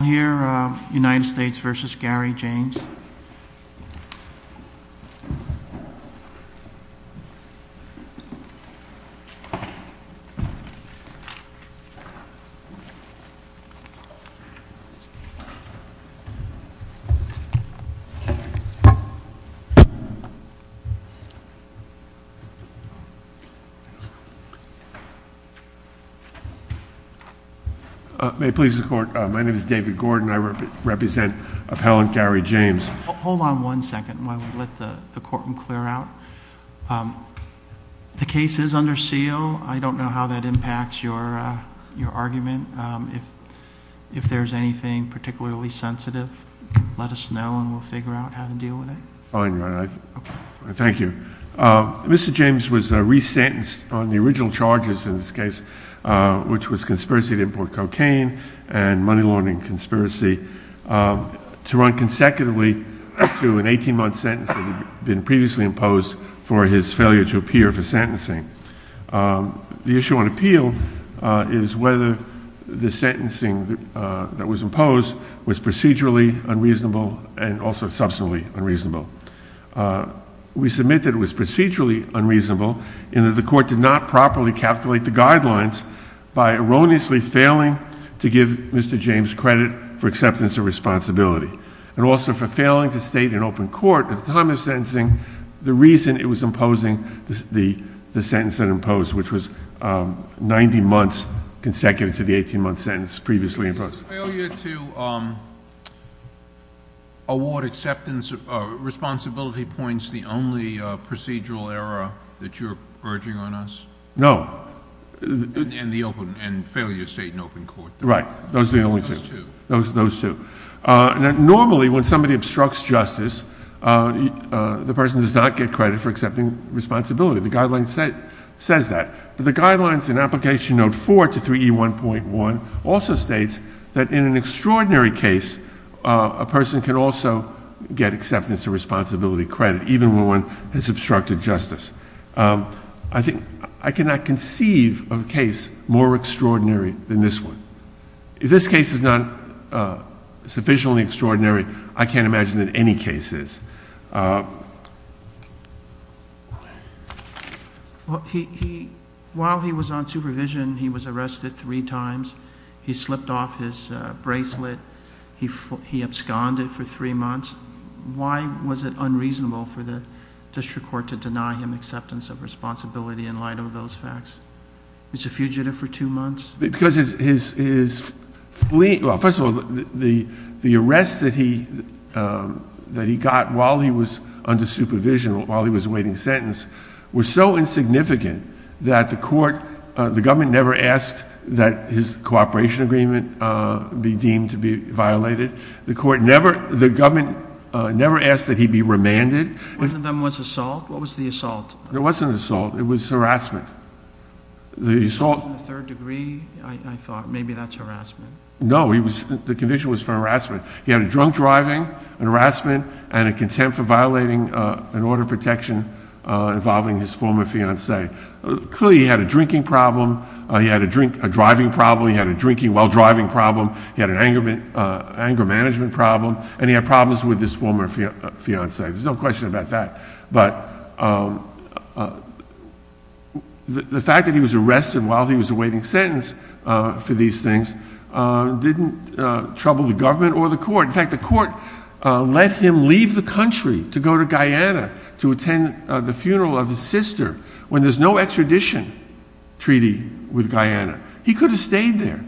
I'll hear United States v. Gary James. May it please the Court, my name is David Gordon. I represent appellant Gary James. Hold on one second while we let the Courtroom clear out. The case is under seal. I don't know how that impacts your argument. If there's anything particularly sensitive, let us know and we'll figure out how to deal with it. Fine. Thank you. Mr. James was resentenced on the original charges in this case, which was conspiracy to import cocaine and money laundering conspiracy to run consecutively to an 18-month sentence that had been previously imposed for his failure to appear for sentencing. The issue on appeal is whether the sentencing that was imposed was procedurally unreasonable and also substantively unreasonable. We submit that it was procedurally unreasonable in that the Court did not properly calculate the guidelines by erroneously failing to give Mr. James credit for acceptance of responsibility and also for failing to state in open court at the time of sentencing the reason it was imposing the sentence that it imposed, which was 90 months consecutive to the 18-month sentence previously imposed. Was failure to award acceptance of responsibility points the only procedural error that you're urging on us? No. And failure to state in open court. Right. Those are the only two. Those two. Normally when somebody obstructs justice, the person does not get credit for accepting responsibility. The guideline says that. But the guidelines in Application Note 4 to 3E1.1 also states that in an extraordinary case, a person can also get acceptance of responsibility credit even when one has obstructed justice. I cannot conceive of a case more extraordinary than this one. If this case is not sufficiently extraordinary, I can't imagine that any case is. While he was on supervision, he was arrested three times. He slipped off his bracelet. He absconded for three months. Why was it unreasonable for the district court to deny him acceptance of responsibility in light of those facts? He's a fugitive for two months. Because his fleeing... Well, first of all, the arrest that he got while he was under supervision, was so insignificant that the court... that the separation agreement be deemed to be violated. The court never... the government never asked that he be remanded. One of them was assault? What was the assault? It wasn't assault. It was harassment. The assault... In the third degree, I thought, maybe that's harassment. No, he was... the conviction was for harassment. He had a drunk driving, an harassment, and a contempt for violating an order of protection involving his former fiancee. Clearly, he had a drinking problem. He had a drink... a driving problem. He had a drinking while driving problem. He had an anger management problem. And he had problems with his former fiancee. There's no question about that. But, the fact that he was arrested while he was awaiting sentence for these things, didn't trouble the government or the court. In fact, the court let him leave the country to go to Guyana to attend the funeral of his sister when there's no extradition treaty with Guyana. He could have stayed there.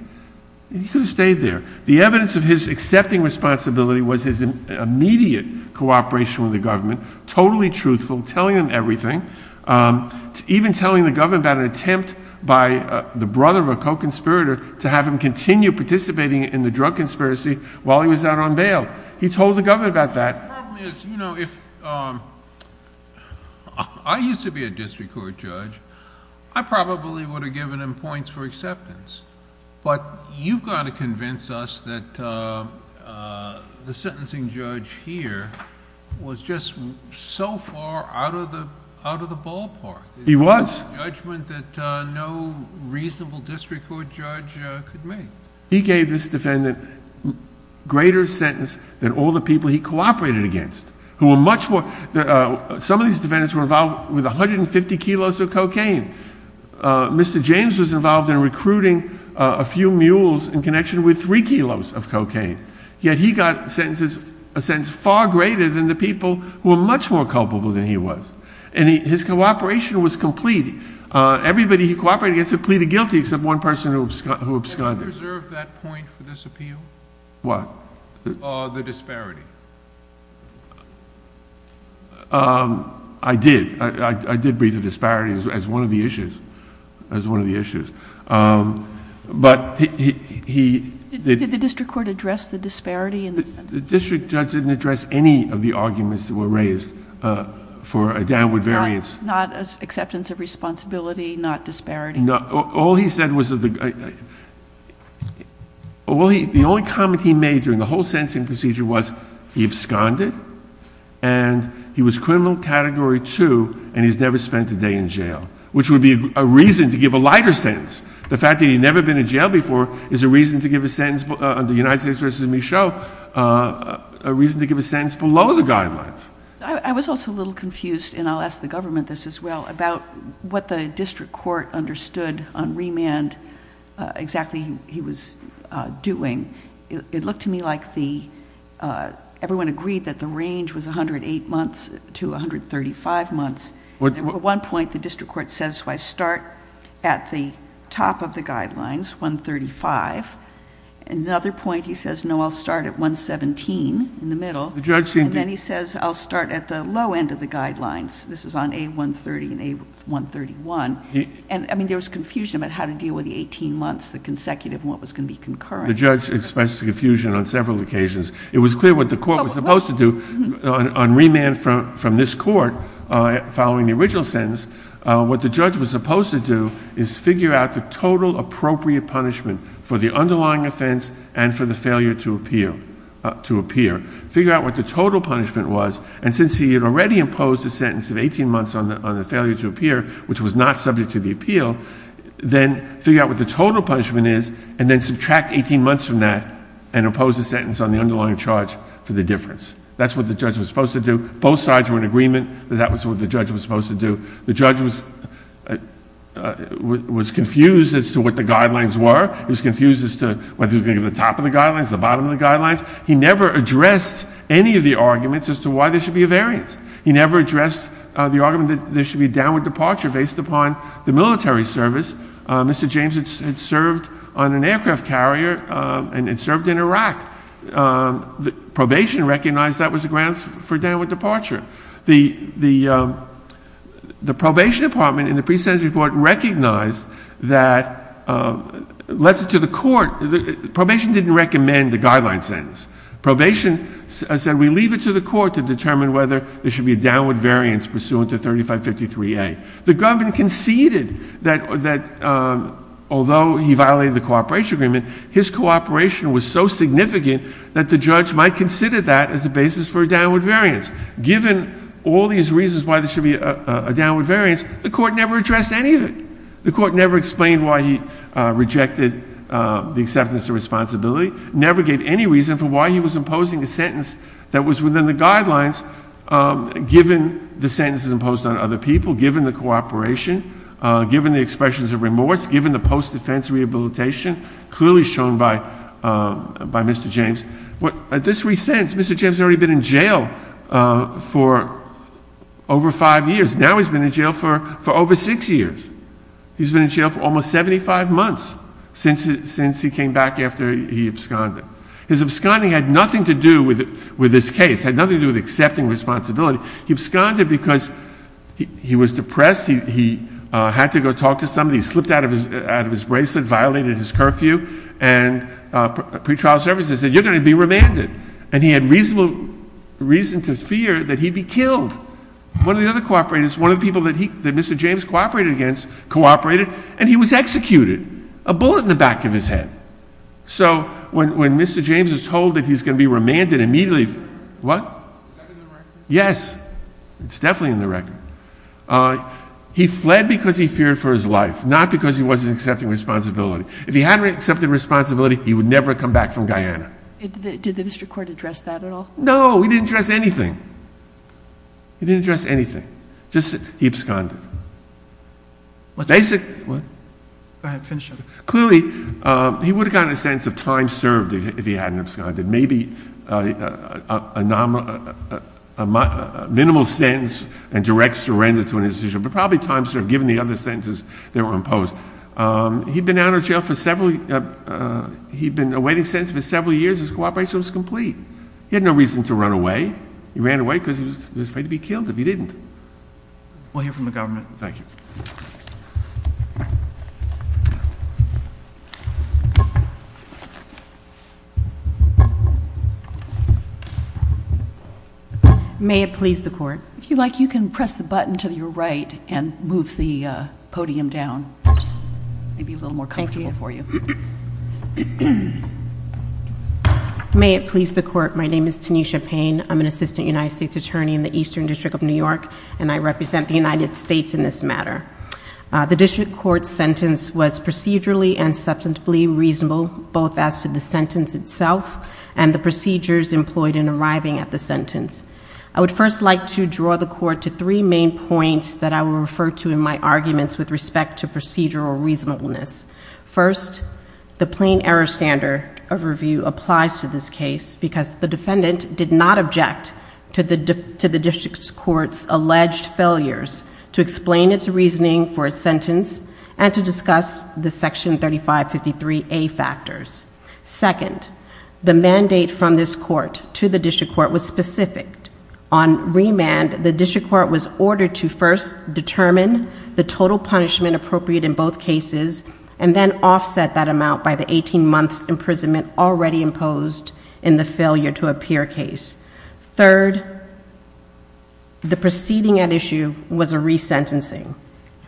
He could have stayed there. The evidence of his accepting responsibility was his immediate cooperation with the government, totally truthful, telling them everything, even telling the government about an attempt by the brother of a co-conspirator to have him continue participating in the drug conspiracy while he was out on bail. He told the government about that. The problem is, you know, if... I used to be a district court judge. I probably would have given him points for acceptance. But, you've got to convince us that the sentencing judge here was just so far out of the ballpark. He was. A judgment that no reasonable district court judge could make. He gave this defendant greater sentence than all the people he cooperated against, who were much more... Some of these defendants were involved with 150 kilos of cocaine. Mr. James was involved in recruiting a few mules in connection with three kilos of cocaine. Yet, he got sentences... a sentence far greater than the people who were much more culpable than he was. And his cooperation was complete. Everybody he cooperated against had pleaded guilty except one person who absconded. Did you reserve that point for this appeal? What? The disparity. I did. I did breathe the disparity as one of the issues. As one of the issues. But, he... Did the district court address the disparity in the sentences? The district judge didn't address any of the arguments that were raised for a downward variance. Not acceptance of responsibility? Not disparity? All he said was... The only comment he made during the whole sentencing procedure was he absconded. And, he was criminal category two and he's never spent a day in jail. Which would be a reason to give a lighter sentence. The fact that he'd never been in jail before is a reason to give a sentence... under United States v. Michaud... a reason to give a sentence below the guidelines. I was also a little confused and I'll ask the government this as well about what the district court understood on remand... exactly he was doing. It looked to me like the everyone agreed that the range was 108 months to 135 months. At one point, the district court says, so I start at the top of the guidelines, 135. At another point, he says, no, I'll start at 117 in the middle. And, then he says, I'll start at the low end of the guidelines. This is on A130 and A131. And, I mean, there was confusion about how to deal with the 18 months, the consecutive and what was going to be concurrent. The judge expressed confusion on several occasions. What the court was supposed to do on remand from this court following the original sentence, what the judge was supposed to do is figure out the total appropriate punishment for the underlying offense and for the failure to appear. Figure out what the total punishment was. And, since he had already imposed a sentence of 18 months on the failure to appear, which was not subject to the appeal, then figure out what the total punishment is and then subtract 18 months from that and impose a sentence on the underlying charge for the difference. That's what the judge was supposed to do. Both sides were in agreement that that was what the judge was supposed to do. The judge was confused as to what the guidelines were. He was confused as to whether he was going to give the top of the guidelines, the bottom of the guidelines. He never addressed any of the arguments as to why there should be a variance. He never addressed the argument that there should be a downward departure based upon the military service. Mr. James had served on an aircraft carrier and the probation recognized that was a grounds for downward departure. The probation department in the pre-sentence report recognized that, let's say to the court, probation didn't recommend the guideline sentence. Probation said, we leave it to the court to determine whether there should be a downward variance pursuant to 3553A. The government conceded that although he violated the cooperation agreement, his cooperation was so significant that he rejected that as a basis for a downward variance. Given all these reasons why there should be a downward variance, the court never addressed any of it. The court never explained why he rejected the acceptance of responsibility, never gave any reason for why he was imposing a sentence that was within the guidelines given the sentences imposed on other people, given the cooperation, given the expressions of remorse, given the post-defense rehabilitation that he received. Mr. James has already been in jail for over five years. Now he's been in jail for over six years. He's been in jail for almost 75 months since he came back after he absconded. His absconding had nothing to do with this case, had nothing to do with accepting responsibility. He absconded because he was depressed. He had to go talk to somebody. He slipped out of his bracelet, violated his curfew, and pretrial services said, you're going to be remanded. And he had reason to fear that he'd be killed. One of the other cooperators, one of the people that Mr. James cooperated against, cooperated, and he was executed. A bullet in the back of his head. So when Mr. James was told that he was going to be remanded, immediately, what? Yes, it's definitely in the record. He fled because he feared for his life, not because he wasn't accepting responsibility. If he hadn't accepted responsibility, he would never have come back from Guyana. Did the district court address that at all? No, he didn't address anything. He didn't address anything. Just he absconded. What? Go ahead, finish up. Clearly, he would have gotten a sense of time served if he hadn't absconded. Maybe a minimal sentence and direct surrender to an institution, but probably time served, given the other sentences that were imposed. He'd been out of jail for several years. He'd been awaiting sentence for several years. His cooperation was complete. He had no reason to run away. He ran away because he was afraid to be killed if he didn't. We'll hear from the government. Thank you. May it please the court. If you like, you can press the button to your right and move the podium down. Maybe a little more comfortable for you. May it please the court. My name is Tanisha Payne. I'm an assistant United States attorney in the Eastern District of New York, and I represent the United States in this matter. The district court's sentence was procedurally and substantively reasonable, both as to the sentence itself and the procedures employed in arriving at the sentence. I would first like to draw the court to three main points that I will refer to in my arguments with respect to procedural reasonableness. First, the plain error standard of review applies to this case because the defendant did not object to the district court's alleged failures to explain its reasoning for its sentence and to discuss the Section 3553A factors. Second, the mandate from this court to the district court was specific. On remand, the district court was ordered to first determine the total punishment appropriate in both cases and then offset that amount by the 18 months' imprisonment already imposed in the failure-to-appear case. Third, the proceeding at issue was a resentencing,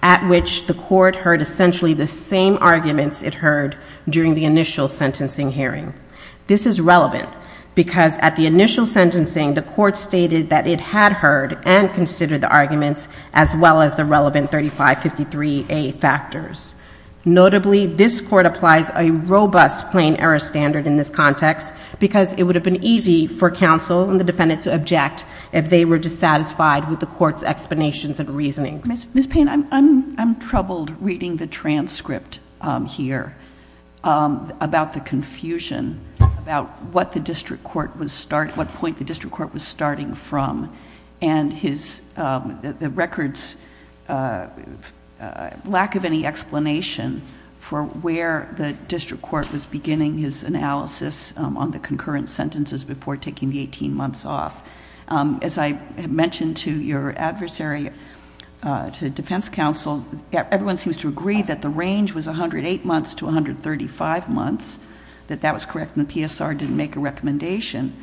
at which the court heard essentially the same arguments it heard during the initial sentencing hearing. This is relevant because at the initial sentencing, the court stated that it had heard and considered the arguments as well as the relevant 3553A factors. Notably, this court applies a robust plain error standard in this context because it would have been easy for counsel and the defendant to object if they were dissatisfied with the court's explanations and reasonings. Ms. Payne, I'm troubled reading the transcript here about the confusion about what point the district court was starting from and the record's lack of any explanation for where the district court was beginning his analysis on the concurrent sentences before taking the 18 months off. As I mentioned to your adversary, to defense counsel, everyone seems to agree that the range was 108 months to 135 months, that that was correct and the PSR didn't make a recommendation,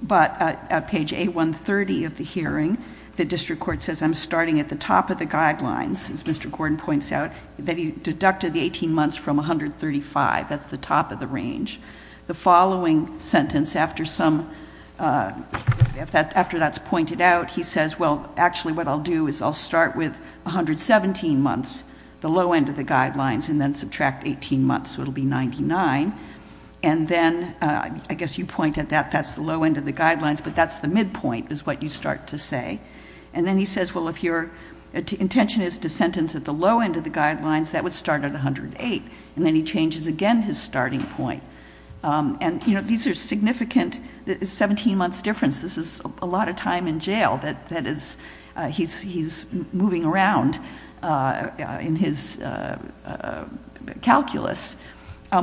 but at page A130 of the hearing, the district court says, I'm starting at the top of the guidelines, as Mr. Gordon points out, 18 months from 135, that's the top of the range. The following sentence, after that's pointed out, he says, well, actually what I'll do is I'll start with 117 months, the low end of the guidelines, and then subtract 18 months, so it'll be 99, and then I guess you point at that, that's the low end of the guidelines, but that's the midpoint is what you start to say, and then he says, well, if your intention is to sentence the defendant to eight, and then he changes, again, his starting point, and these are significant, 17 months difference, this is a lot of time in jail that he's moving around in his calculus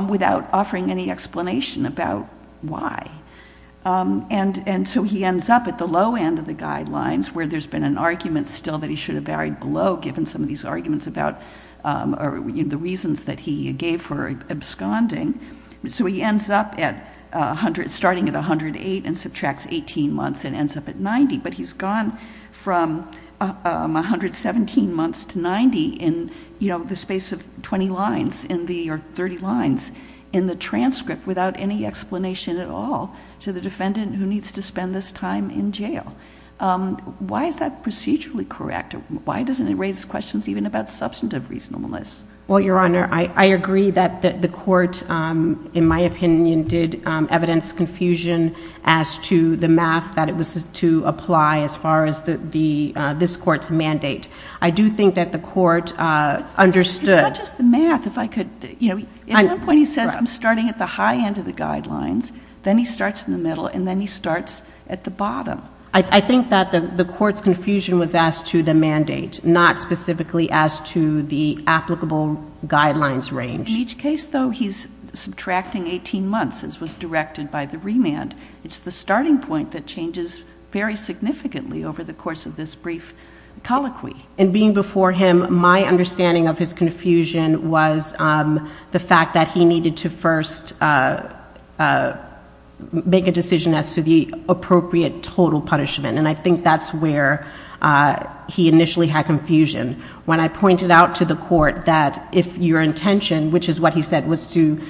without offering any explanation about why, and so he ends up at the low end of the guidelines where there's been an argument still that he should have varied below given some of these arguments about the reasons that he gave for absconding, so he ends up starting at 108 and subtracts 18 months and ends up at 90, but he's gone from 117 months to 90 in the space of 20 lines or 30 lines in the transcript without any explanation at all to the defendant who needs to spend this time in jail. Why is that procedurally correct? Why doesn't it raise questions even about substantive reasonableness? Well, Your Honor, I agree that the court, in my opinion, did evidence confusion as to the math that it was to apply as far as this court's mandate. I do think that the court understood. It's not just the math. At one point he says then he starts in the middle, and then he starts at the bottom. I think that the court's confusion was as to the mandate, not specifically as to the applicable guidelines range. In each case, though, he's subtracting 18 months as was directed by the remand. It's the starting point that changes very significantly over the course of this brief colloquy. In being before him, my understanding of his confusion was the fact that he needed to first make a decision as to the appropriate total punishment, and I think that's where he initially had confusion. When I pointed out to the court that if your intention, which is what he said, was to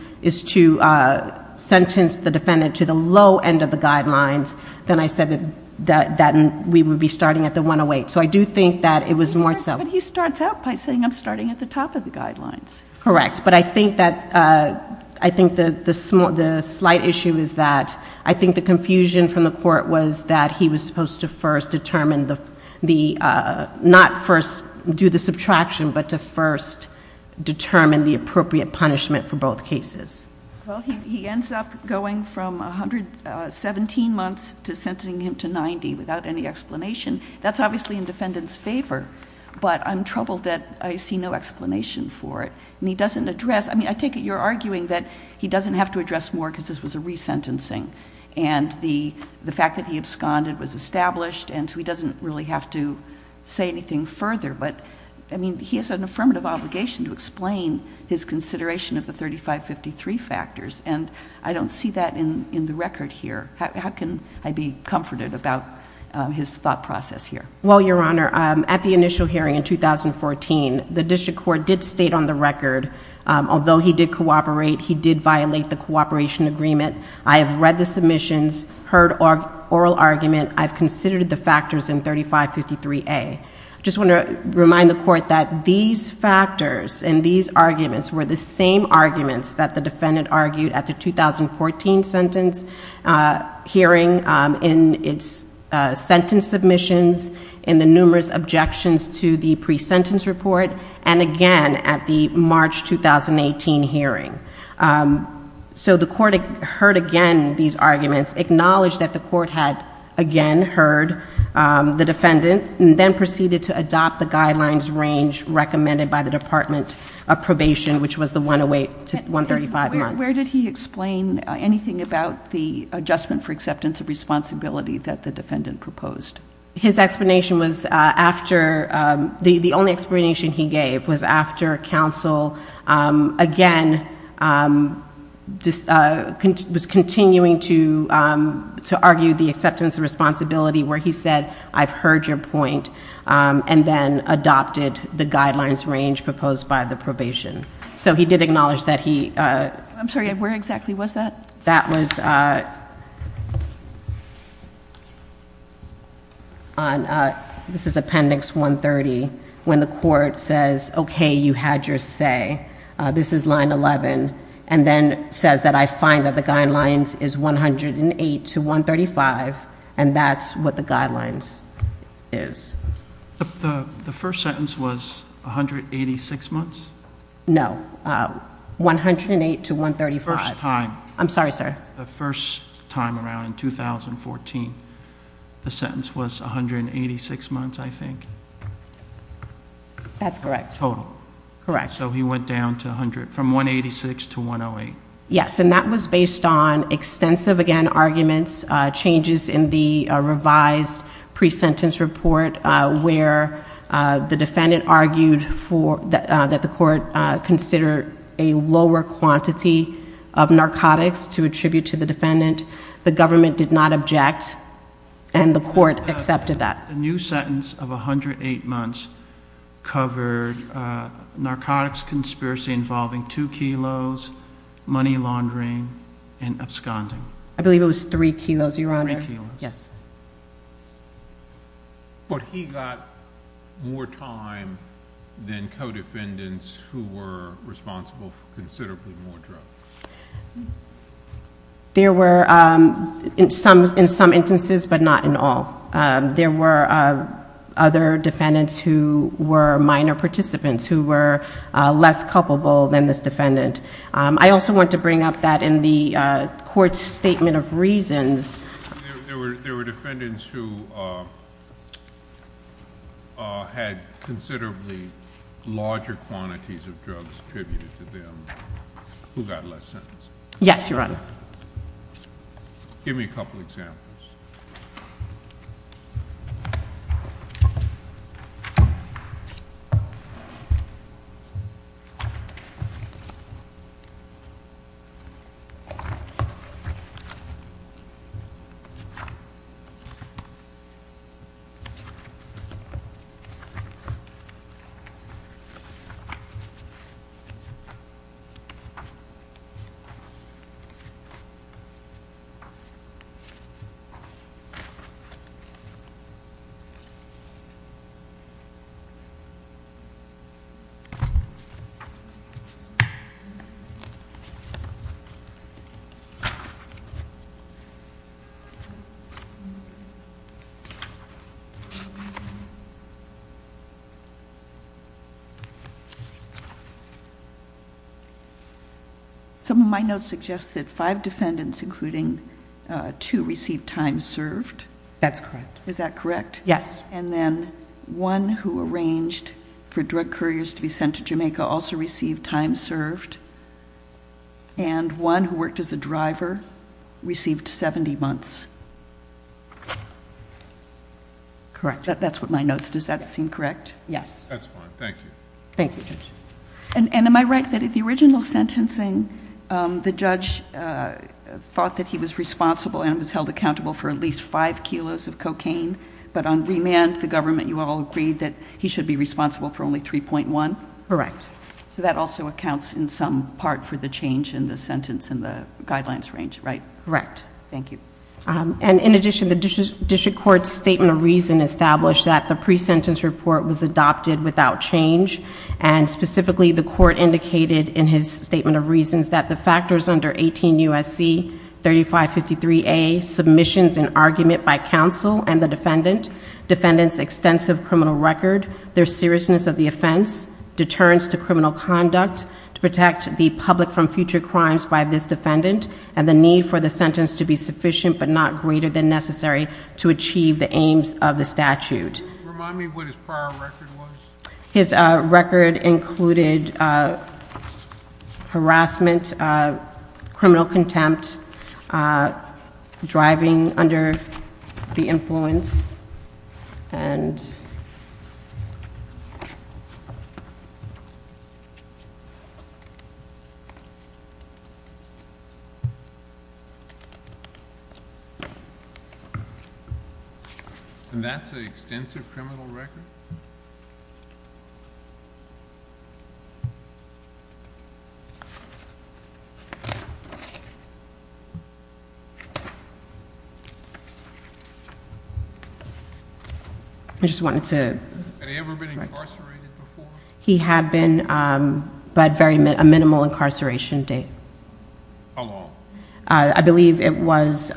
sentence the defendant to the low end of the guidelines, then I said that we would be starting at the 108. So I do think that it was more so. But he starts out by saying I'm starting at the top of the guidelines. Correct, but I think that the slight issue is that the confusion from the court was that he was supposed to first determine the, not first do the subtraction, but to first determine the appropriate punishment for both cases. Well, he ends up going from 117 months to sentencing him to 90 without any explanation. That's obviously in defendant's favor, but I'm troubled that I see no explanation for it. And he doesn't address, I mean, I take it you're arguing that the fact that he absconded was established, and so he doesn't really have to say anything further. But, I mean, he has an affirmative obligation to explain his consideration of the 3553 factors, and I don't see that in the record here. How can I be comforted about his thought process here? Well, Your Honor, at the initial hearing in 2014, the district court did state on the record, although he did cooperate, he heard oral argument, I've considered the factors in 3553A. I just want to remind the court that these factors and these arguments were the same arguments that the defendant argued at the 2014 sentence hearing in its sentence submissions, in the numerous objections to the pre-sentence report, and again at the March 2018 hearing. So the court heard again these arguments, acknowledged that the court had again heard the defendant, and then proceeded to adopt the guidelines range recommended by the Department of Probation, which was the 108 to 135 months. Where did he explain anything about the adjustment for acceptance of responsibility that the defendant proposed? His explanation was after, the only explanation he gave was after counsel again was continuing to argue the acceptance of responsibility where he said, I've heard your point, and then adopted the guidelines range proposed by the probation. So he did acknowledge that he... I'm sorry, where exactly was that? That was... This is appendix 130, when the court says, okay, you had your say. This is line 11, and then says that I find that the guidelines is 108 to 135, and that's what the guidelines is. The first sentence was 186 months? No. 108 to 135. First time. I'm sorry, sir. The first time around in 2014, the sentence was 186 months, I think. That's correct. Total. Correct. So he went down to 100, from 186 to 108. Yes, and that was based on extensive, again, arguments, changes in the revised pre-sentence report where the defendant argued that the court considered a lower quantity of narcotics to attribute to the defendant. The government did not object, and the court accepted that. The new sentence of 108 months covered narcotics conspiracy involving two kilos, money laundering, and absconding. I believe it was three kilos, Your Honor. Three kilos. Yes. But he got more time than co-defendants who were responsible for considerably more drugs. There were, in some instances, but not in all. There were other defendants who were minor participants who were less culpable than this defendant. I also want to bring up that in the court's statement of reasons. There were defendants who had considerably larger quantities of drugs attributed to them who got less sentence. Yes, Your Honor. Give me a couple examples. Okay. Some of my notes suggest that five defendants, including two, received time served. That's correct. less time served. Yes. And then one who received less time served. Yes. And then one who arranged for drug couriers to be sent to Jamaica also received time served. And one who worked as a driver received 70 months. Correct. That's what my notes. Does that seem correct? Yes. That's fine. Thank you. Thank you. And am I right that in the original sentencing, the judge thought that he was responsible and was held accountable for at least five kilos of cocaine, he should be responsible for only 3.1? Correct. So that also accounts in some part for the change in the sentence and the guidelines range, right? Correct. Thank you. And in addition, the district court's statement of reason established that the pre-sentence report was adopted without change and specifically, the court indicated in his statement of reasons that the factors under 18 U.S.C. 3553A, submissions and argument by counsel and the defendant, defendant's extensive criminal record, their seriousness of the offense, deterrence to criminal conduct to protect the public from future crimes by this defendant and the need for the sentence to be sufficient but not greater than necessary to achieve the aims of the statute. Remind me what his prior record was. His record included harassment, criminal contempt, driving under the influence and And that's an extensive criminal record? I just wanted to Have he ever been incarcerated before? He had been but a very minimal incarceration date. How long? I believe it was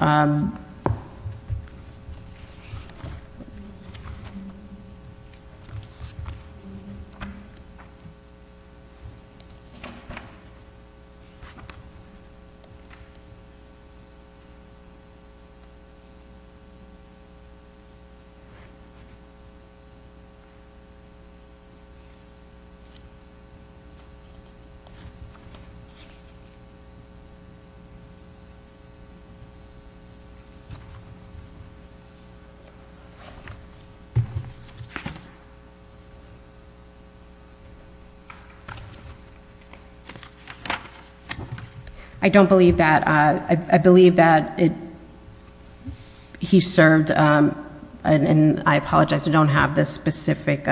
I don't believe that I believe that in prison for I believe he served in prison for for I apologize we don't have the specific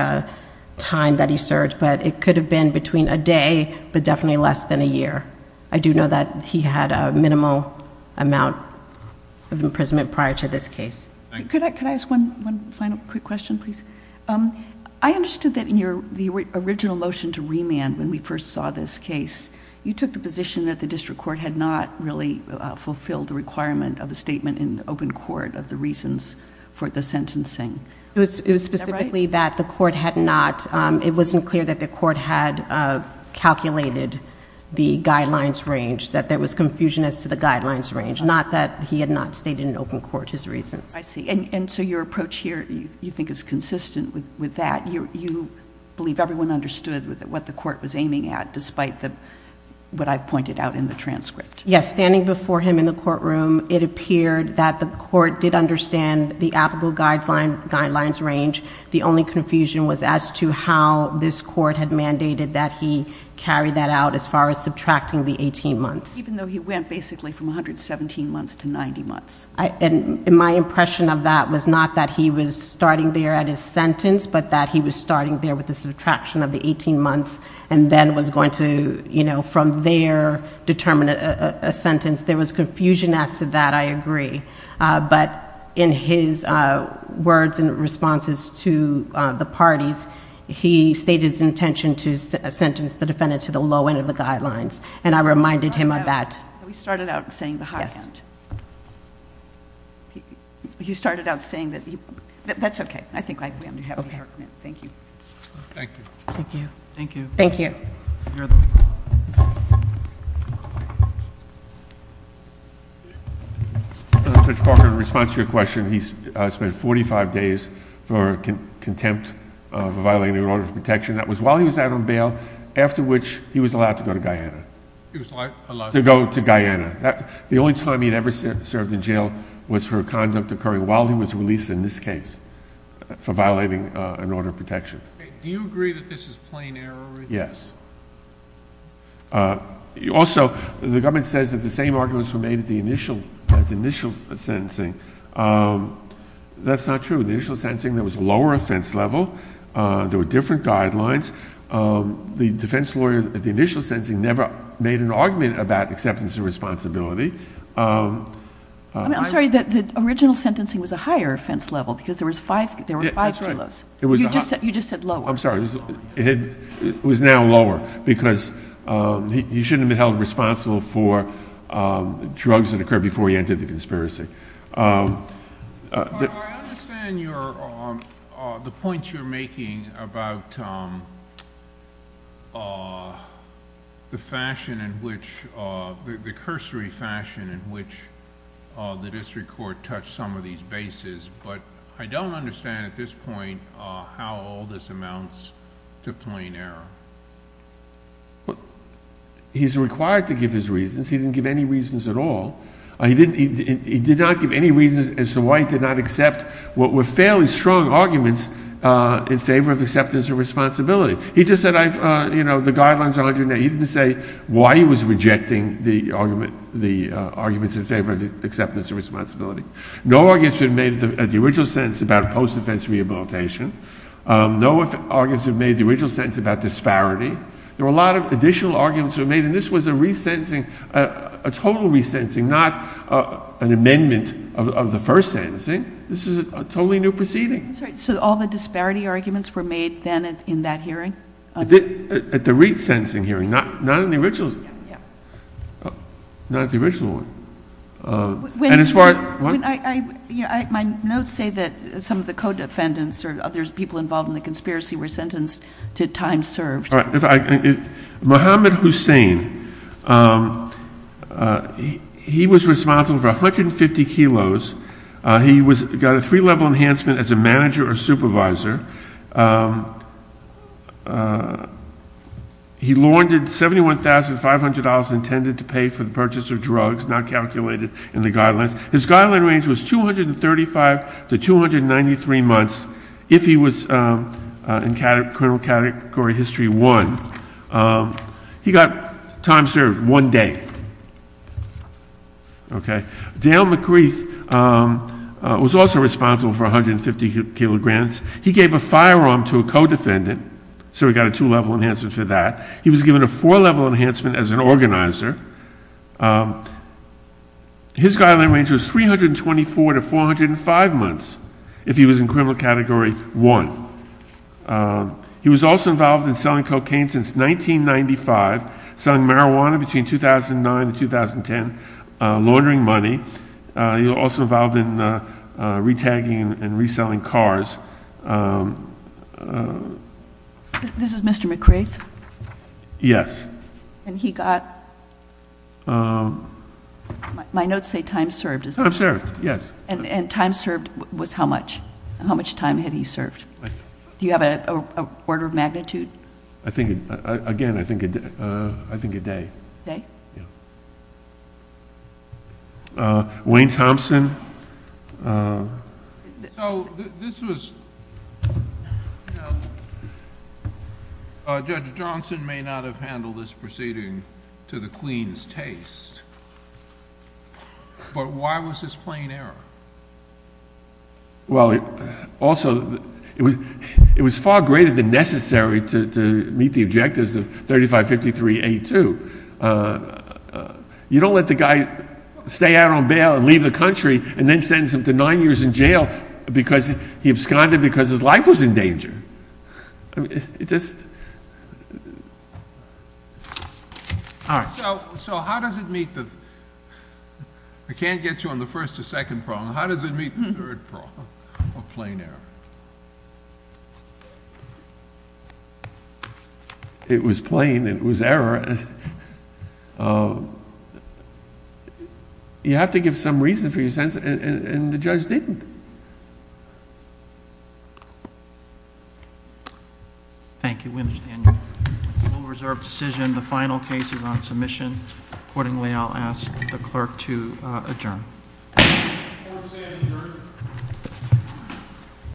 time that he served but it could have been between a day but definitely less than a year. I do know that he had a minimal amount of imprisonment prior to this case. Could I ask one final quick question please? I understood that in your original motion to remand when we first saw this case you took the position that the district court had not really fulfilled the requirement of the statement in open court of the reasons for the sentencing. It was specifically that the court had not it wasn't clear that the court had calculated the guidelines range that there was confusion as to the guidelines range not that he had not stated in open court his reasons. I see and so your approach here you think is consistent with that you believe everyone understood what the court was aiming at despite the what I've pointed out in the transcript. Yes, standing before him in the courtroom it appeared that the court did understand the applicable guidelines range the only confusion was as to how this court had mandated that he carry that out as far as subtracting the 18 months. Even though he went basically from 117 months to 90 months. My impression of that was not that he was starting there at his sentence but that he was starting there with the subtraction of the 18 months and then was going to you know from there determine a sentence. There was confusion as to that I agree but in his words and responses to the parties he stated his intention to sentence the defendant to the low end of the guidelines and I reminded him of that. We started out saying the high end. Yes. He started out saying that that's okay I think we have the argument. Thank you. Thank you. Thank you. Thank you. Thank you. You're the one. Judge Parker in response to your question he spent 45 days for contempt of violating an order of protection that was while he was out on bail after which he was allowed to go to Guyana. He was allowed to go to Guyana. The only time he had ever served in jail was for conduct occurring while he was released in this case for violating an order of protection. Do you agree that this is plain error? Yes. Also, the government says that the same arguments were made at the initial sentencing. That's not true. At the initial sentencing there was a lower offense level. There were different guidelines. The defense lawyer at the initial sentencing never made an argument about acceptance of responsibility. I'm sorry, the original sentencing was lower because he shouldn't have been held responsible for drugs that occurred before he entered the conspiracy. I understand the points you're making about the fashion in which the cursory fashion in which the district court touched some of these bases, but I don't understand at this point how all this amounts to plain error. He's required to give his reasons. He didn't give any reasons at all. He did not give any reasons as to why he did not accept what were fairly strong arguments in favor of acceptance of responsibility. He just said, you know, the guidelines are under there. He didn't say why he was rejecting the arguments in favor of acceptance of responsibility. were made at the original sentence about post-defense rehabilitation. No arguments were made at the original sentence about disparity. There were a lot of additional arguments made, and this was a total resentencing, not an amendment of the first sentencing. This is a totally new proceeding. All the disparity arguments were made in that hearing? At the resentencing hearing, not in the original one. My notes say that some of the co-defendants were sentenced to time served. Mohammed Hussain, he was responsible for 150 kilos. He got a three-level enhancement as a manager or supervisor. He laundered $71,500 intended to pay for the purchase of drugs, not to the purchase of drugs. He was given a two-level enhancement for He was given a four-level enhancement as an organizer. His guideline range was 324 to 405 months. He was in criminal category one. He was also involved in selling cocaine since 1995, selling marijuana between 2009 and 2010, laundering money. He was also involved in retagging and reselling cars. This is Mr. Johnson's testimony. given two-level for the purchase of drugs, not to the purchase of drugs. He was given a four-level enhancement since 1995, selling marijuana between 2009 and 2010, not to the purchase of drugs, not the purchase of marijuana between 2009 and 2010, not to the purchase of drugs, not to the purchase of marijuana between the purchase not to the purchase of marijuana between 2009 and 2010, not to the purchase of drugs, not to the purchase of marijuana to the purchase of drugs, not to the purchase of drugs, not to the purchase of drugs, not purchase of drugs.